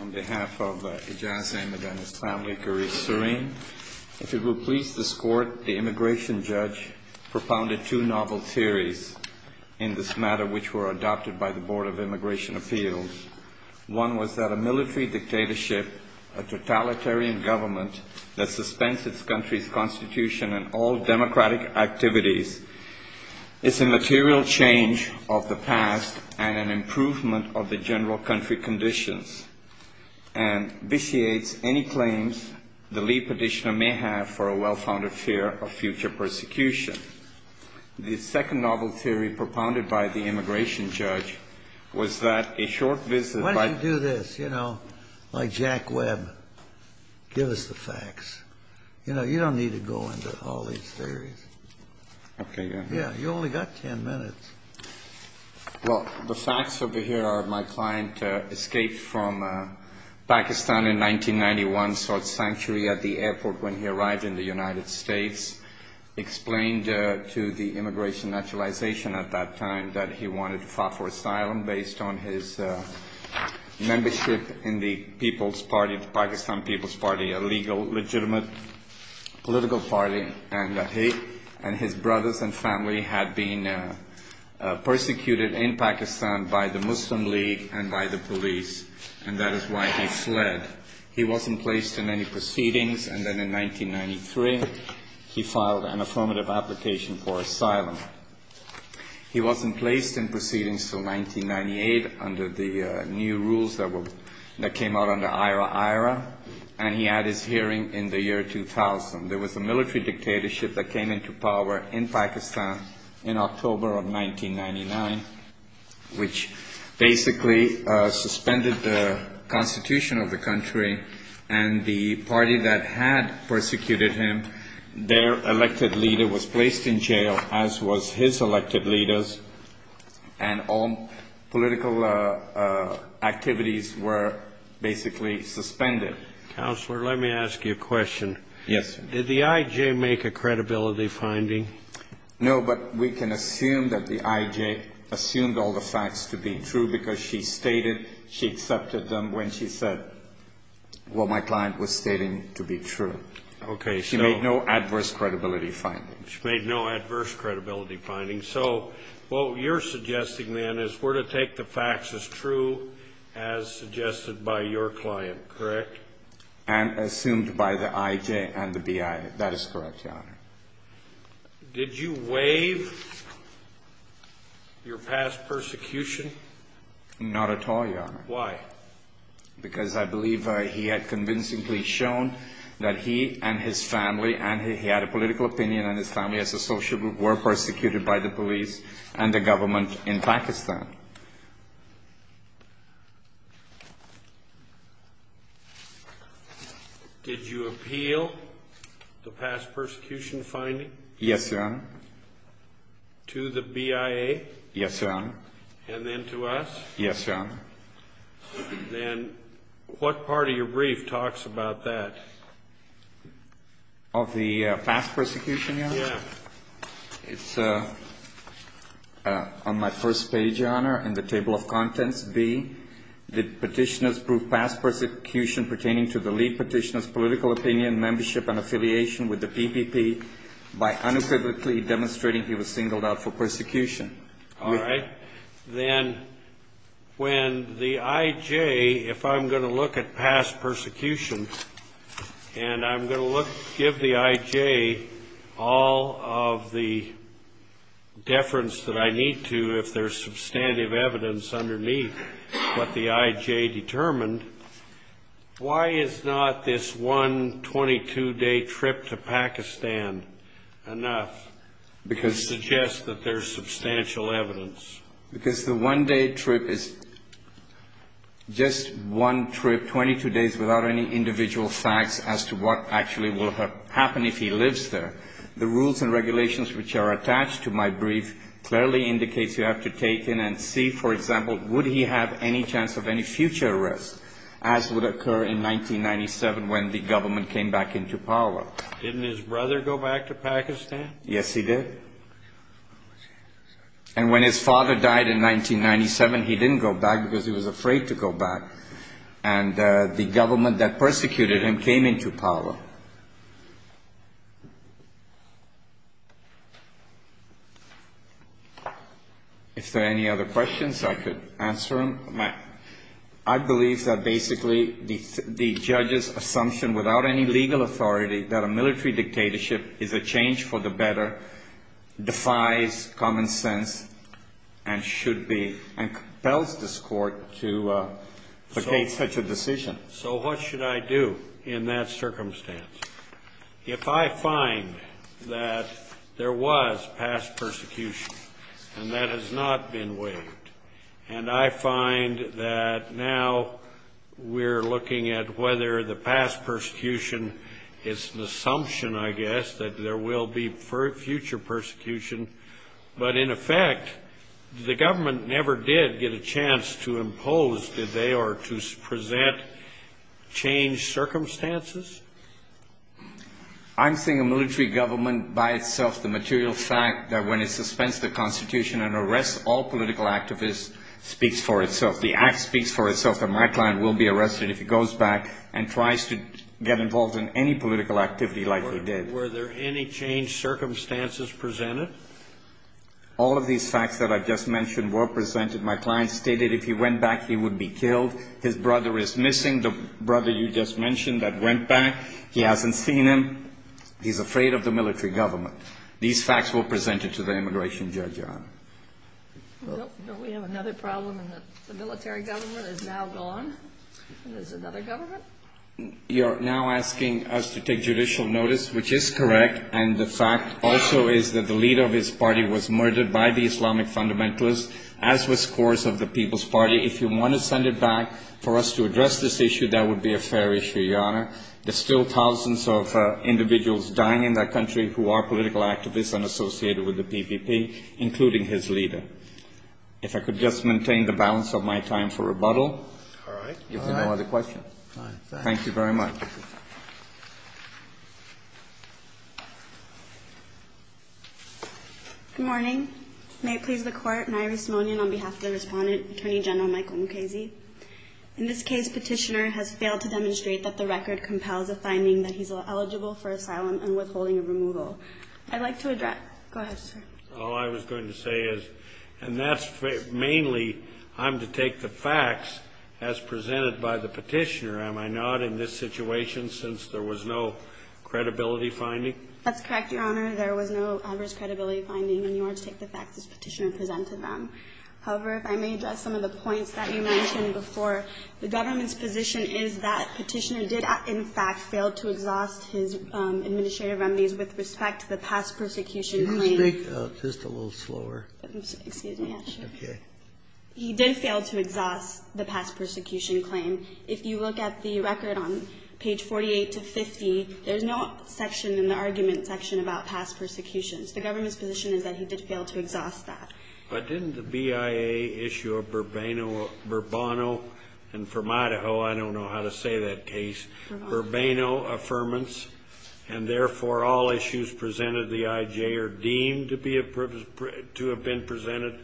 On behalf of Ijaz Ahmed and his family, Garif Sareen, if it will please this Court, the immigration judge propounded two novel theories in this matter which were adopted by the Board of Immigration Appeals. One was that a military dictatorship, a totalitarian government that suspends its country's constitution and all democratic activities is a material change of the past and an improvement of the general country conditions and vitiates any claims the lead petitioner may have for a well-founded fear of future persecution. The second novel theory propounded by the immigration judge was that a short visit by... Why don't you do this, you know, like Jack Webb. Give us the facts. You know, you don't need to go into all these theories. Okay. Yeah, you only got ten minutes. Well, the facts over here are my client escaped from Pakistan in 1991, sought sanctuary at the airport when he arrived in the United States. Explained to the immigration naturalization at that time that he wanted to fight for asylum based on his membership in the People's Party, the Pakistan People's Party, a legal, legitimate political party, and that he and his brothers and family had been persecuted in Pakistan by the Muslim League and by the police, and that is why he fled. He wasn't placed in any proceedings, and then in 1993, he filed an affirmative application for asylum. He wasn't placed in proceedings until 1998 under the new rules that came out under IRAIRA, and he had his hearing in the year 2000. There was a military dictatorship that came into power in Pakistan in October of 1999, which basically suspended the constitution of the country, and the party that had persecuted him, their elected leader was placed in jail, as was his elected leaders, and all political activities were basically suspended. Counselor, let me ask you a question. Yes. Did the I.J. make a credibility finding? No, but we can assume that the I.J. assumed all the facts to be true because she stated she accepted them when she said what my client was stating to be true. Okay. She made no adverse credibility findings. So what you're suggesting, then, is we're to take the facts as true as suggested by your client, correct? And assumed by the I.J. and the B.I. That is correct, Your Honor. Did you waive your past persecution? Not at all, Your Honor. Why? Because I believe he had convincingly shown that he and his family, and he had a political opinion, and his family as a social group were persecuted by the police and the government in Pakistan. Did you appeal the past persecution finding? Yes, Your Honor. To the B.I.A.? Yes, Your Honor. And then to us? Yes, Your Honor. Then what part of your brief talks about that? Of the past persecution, Your Honor? Yes. It's on my first page, Your Honor, in the table of contents. B, did petitioners prove past persecution pertaining to the lead petitioner's political opinion, membership, and affiliation with the PPP by unequivocally demonstrating he was singled out for persecution? All right. Then when the I.J., if I'm going to look at past persecution, and I'm going to give the I.J. all of the deference that I need to if there's substantive evidence underneath what the I.J. determined, why is not this one 22-day trip to Pakistan enough to suggest that there's substantial evidence? Because the one-day trip is just one trip, 22 days, without any individual facts as to what actually will happen if he lives there. The rules and regulations which are attached to my brief clearly indicates you have to take in and see, for example, would he have any chance of any future arrest, as would occur in 1997 when the government came back into power. Didn't his brother go back to Pakistan? Yes, he did. And when his father died in 1997, he didn't go back because he was afraid to go back. And the government that persecuted him came into power. If there are any other questions, I could answer them. I believe that basically the judge's assumption without any legal authority that a military dictatorship is a change for the better defies common sense and should be, and compels this court to make such a decision. So what should I do in that circumstance? If I find that there was past persecution and that has not been waived, and I find that now we're looking at whether the past persecution is an assumption, I guess, that there will be future persecution, but in effect, the government never did get a chance to impose, did they, or to present change circumstances? I'm saying a military government by itself, the material fact that when it suspends the Constitution and arrests all political activists, speaks for itself. The act speaks for itself that my client will be arrested if he goes back and tries to get involved in any political activity like he did. Were there any change circumstances presented? All of these facts that I've just mentioned were presented. My client stated if he went back, he would be killed. His brother is missing, the brother you just mentioned that went back. He hasn't seen him. He's afraid of the military government. These facts were presented to the immigration judge, Your Honor. We have another problem in that the military government is now gone. There's another government. You're now asking us to take judicial notice, which is correct, and the fact also is that the leader of his party was murdered by the Islamic fundamentalists, as was course of the People's Party. If you want to send it back for us to address this issue, that would be a fair issue, Your Honor. There's still thousands of individuals dying in that country who are political activists and associated with the PPP, including his leader. If I could just maintain the balance of my time for rebuttal. All right. If there are no other questions. All right. Thank you very much. Good morning. May it please the Court, an irony on behalf of the Respondent, Attorney General Michael Mukasey. In this case, Petitioner has failed to demonstrate that the record compels a finding that he's eligible for asylum and withholding of removal. I'd like to address. Go ahead, sir. All I was going to say is, and that's mainly, I'm to take the facts as presented by the Petitioner, am I not, in this situation, since there was no credibility finding? That's correct, Your Honor. There was no adverse credibility finding, and you are to take the facts as Petitioner presented them. However, if I may address some of the points that you mentioned before, the government's position is that Petitioner did, in fact, fail to exhaust his administrative remedies with respect to the past persecution claim. Could you speak just a little slower? Excuse me, Your Honor. Okay. He did fail to exhaust the past persecution claim. If you look at the record on page 48 to 50, there's no section in the argument section about past persecutions. The government's position is that he did fail to exhaust that. But didn't the BIA issue a Burbano, and from Idaho, I don't know how to say that case. Burbano. Burbano. Burbano. So there is no affirmance, and therefore, all issues presented at the IJ are deemed to be to have been presented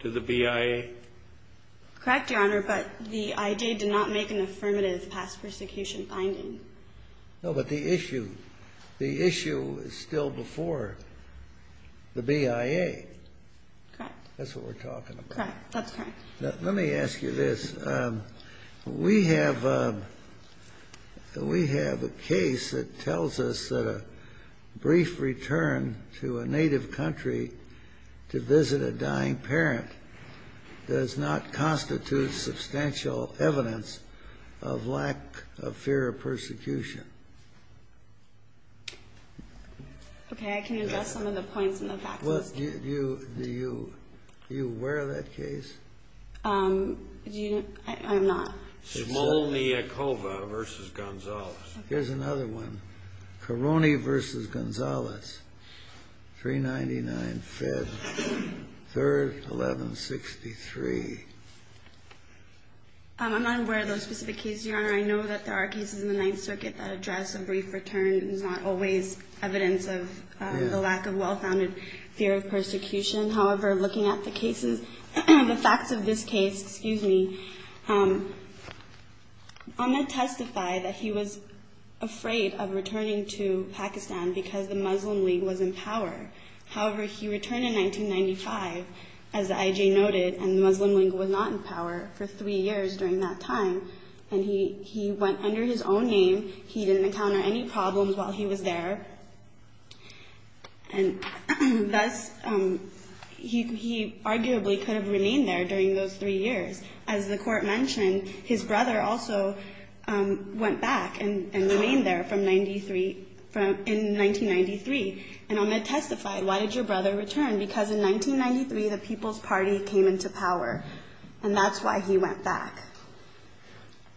to the BIA? Correct, Your Honor, but the IJ did not make an affirmative past persecution finding. No, but the issue is still before the BIA. Correct. That's what we're talking about. That's correct. Let me ask you this. We have a case that tells us that a brief return to a native country to visit a dying parent does not constitute substantial evidence of lack of fear of persecution. Okay. I can address some of the points in the facts. Do you aware of that case? I'm not. Smolniakova v. Gonzalez. Here's another one. Caroni v. Gonzalez, 399 Fed, 3rd, 1163. I'm not aware of those specific cases, Your Honor. I know that there are cases in the Ninth Circuit that address a brief return. It's not always evidence of the lack of well-founded fear of persecution. However, looking at the facts of this case, I'm going to testify that he was afraid of returning to Pakistan because the Muslim League was in power. However, he returned in 1995, as the IJ noted, and the Muslim League was not in power for three years during that time. He went under his own name. He didn't encounter any problems while he was there. And thus, he arguably could have remained there during those three years. As the Court mentioned, his brother also went back and remained there in 1993. And I'm going to testify, why did your brother return? Because in 1993, the People's Party came into power, and that's why he went back.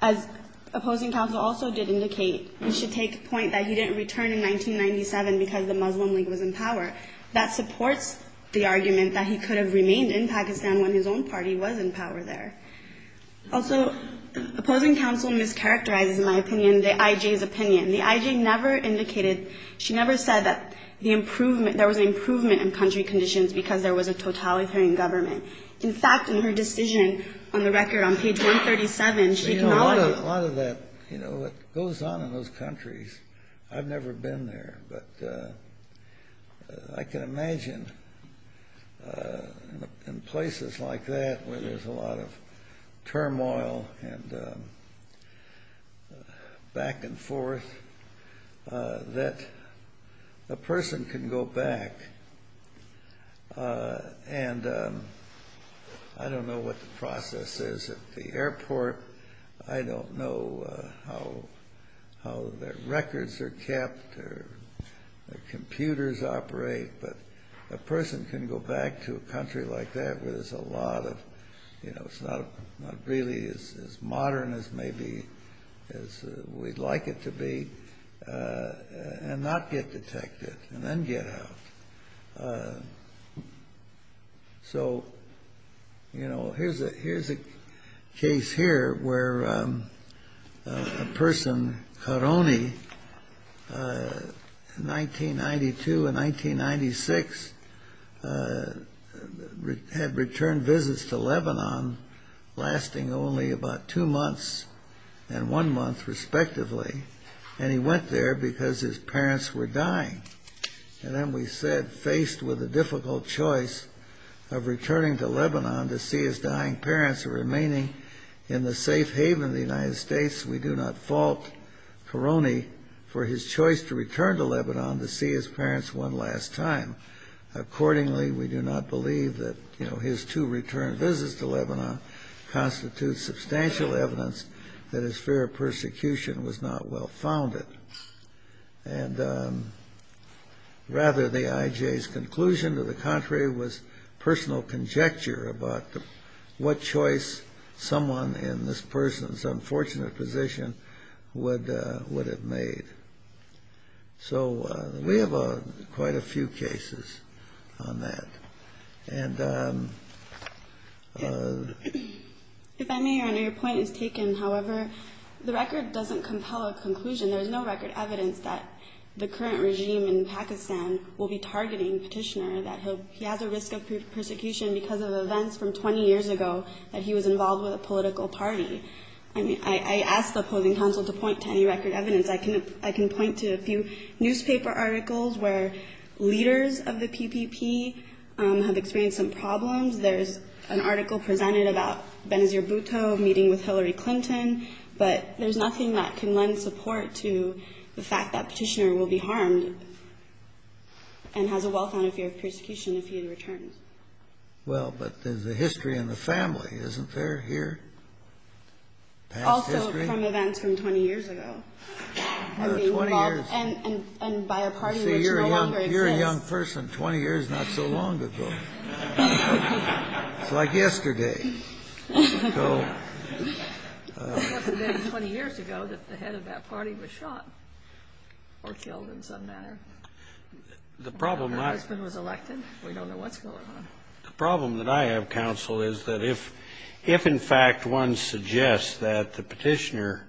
As opposing counsel also did indicate, we should take point that he didn't return in 1997 because the Muslim League was in power. That supports the argument that he could have remained in Pakistan when his own party was in power there. Also, opposing counsel mischaracterizes, in my opinion, the IJ's opinion. The IJ never indicated, she never said that there was an improvement in country conditions because there was a totalitarian government. In fact, in her decision on the record on page 137, she acknowledged it. A lot of that, you know, it goes on in those countries. I've never been there, but I can imagine in places like that where there's a lot of turmoil and back and forth, that a person can go back. And I don't know what the process is at the airport. I don't know how their records are kept or their computers operate, but a person can go back to a country like that where there's a lot of, you know, it's not really as modern as maybe we'd like it to be, and not get detected, and then get out. So, you know, here's a case here where a person, Karony, in 1992 and 1996, had returned visits to Lebanon, lasting only about two months and one month, respectively. And he went there because his parents were dying. And then we said, faced with a difficult choice of returning to Lebanon to see his dying parents or remaining in the safe haven of the United States, we do not fault Karony for his choice to return to Lebanon to see his parents one last time. Accordingly, we do not believe that, you know, his two return visits to Lebanon constitutes substantial evidence that his fear of persecution was not well founded. And rather, the IJ's conclusion, to the contrary, was personal conjecture about what choice someone in this person's unfortunate position would have made. So we have quite a few cases on that. If I may, Your Honor, your point is taken. However, the record doesn't compel a conclusion. There's no record evidence that the current regime in Pakistan will be targeting Petitioner, that he has a risk of persecution because of events from 20 years ago that he was involved with a political party. I mean, I ask the opposing counsel to point to any record evidence. I can point to a few newspaper articles where leaders of the PPP have experienced some problems. There's an article presented about Benazir Bhutto meeting with Hillary Clinton. But there's nothing that can lend support to the fact that Petitioner will be harmed and has a well-founded fear of persecution if he returns. Well, but there's a history in the family, isn't there, here? Also from events from 20 years ago. And by a party which no longer exists. You're a young person, 20 years not so long ago. It's like yesterday. It wasn't then 20 years ago that the head of that party was shot or killed in some manner. Her husband was elected. We don't know what's going on. The problem that I have, counsel, is that if in fact one suggests that the Petitioner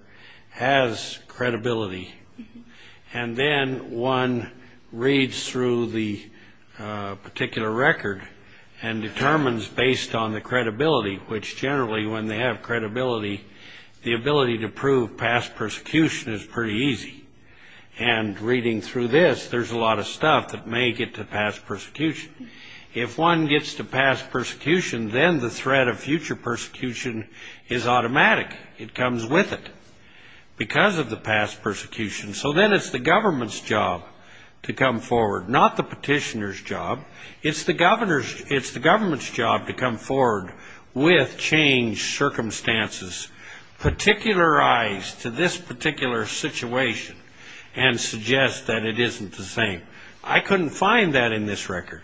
has credibility and then one reads through the particular record and determines based on the credibility, which generally when they have credibility, the ability to prove past persecution is pretty easy. And reading through this, there's a lot of stuff that may get to past persecution. If one gets to past persecution, then the threat of future persecution is automatic. It comes with it. Because of the past persecution. So then it's the government's job to come forward, not the Petitioner's job. It's the government's job to come forward with changed circumstances, particularize to this particular situation and suggest that it isn't the same. I couldn't find that in this record.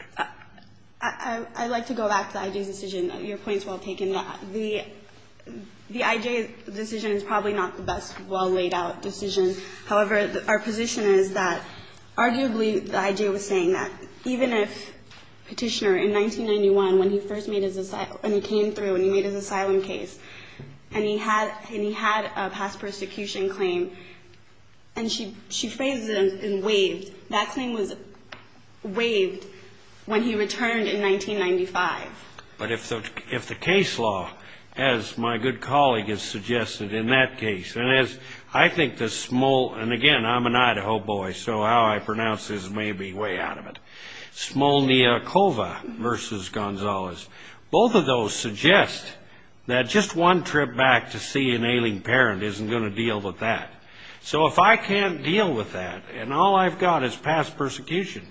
I'd like to go back to the IJ's decision. Your point is well taken. The IJ's decision is probably not the best well laid out decision. However, our position is that arguably the IJ was saying that even if Petitioner in 1991 when he first made his asylum and he came through and he made his asylum case and he had a past persecution claim and she phrased it and waved, that claim was waived when he returned in 1995. But if the case law, as my good colleague has suggested in that case, and I think the small, and again, I'm an Idaho boy, so how I pronounce this may be way out of it. Smolniakova versus Gonzalez. Both of those suggest that just one trip back to see an ailing parent isn't going to deal with that. So if I can't deal with that and all I've got is past persecution,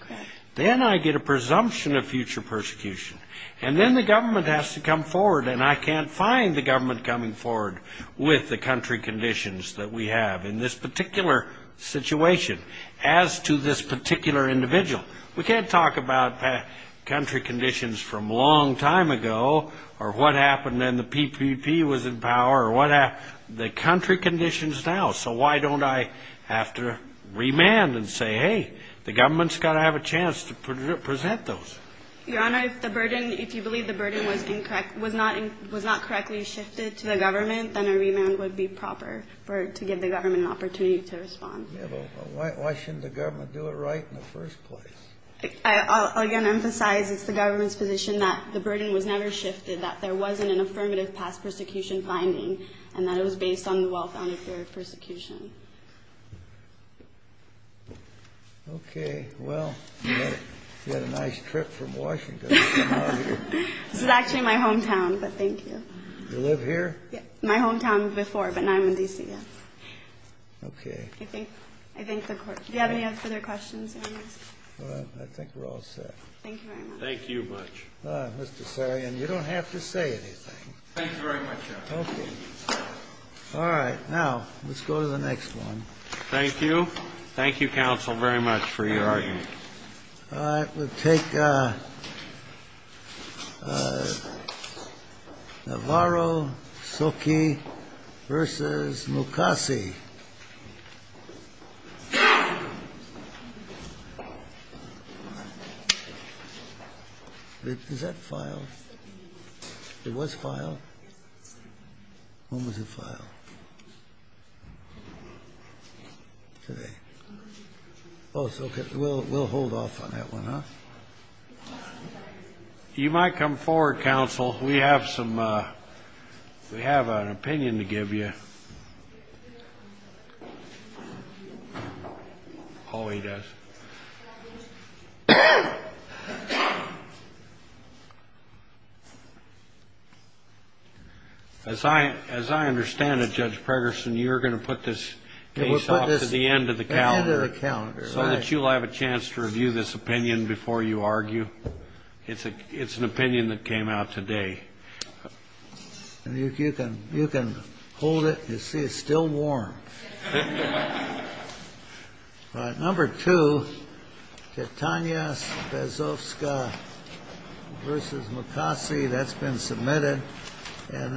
then I get a presumption of future persecution, and then the government has to come forward and I can't find the government coming forward with the country conditions that we have in this particular situation as to this particular individual. We can't talk about country conditions from a long time ago or what happened when the PPP was in power or what happened. The country conditions now, so why don't I have to remand and say, hey, the government's got to have a chance to present those? Your Honor, if the burden, if you believe the burden was not correctly shifted to the government, then a remand would be proper to give the government an opportunity to respond. Why shouldn't the government do it right in the first place? I'll again emphasize it's the government's position that the burden was never shifted, that there wasn't an affirmative past persecution finding, and that it was based on the well-founded theory of persecution. Okay, well, you had a nice trip from Washington to come out here. This is actually my hometown, but thank you. You live here? Yeah, my hometown before, but now I'm in D.C., yes. Okay. Do you have any other further questions, Your Honor? All right, I think we're all set. Thank you very much. Thank you much. Mr. Sarian, you don't have to say anything. Thank you very much, Your Honor. Okay. All right, now let's go to the next one. Thank you. Thank you, counsel, very much for your argument. All right, we'll take Navarro-Soki v. Mukasey. Is that filed? It was filed. When was it filed? Today. Oh, so we'll hold off on that one, huh? You might come forward, counsel. We have an opinion to give you. Oh, he does. As I understand it, Judge Pregerson, you're going to put this case off to the end of the calendar so that you'll have a chance to review this opinion before you argue. It's an opinion that came out today. You can hold it. You see it's still warm. All right, number two, Katania Bezovska v. Mukasey. That's been submitted. And then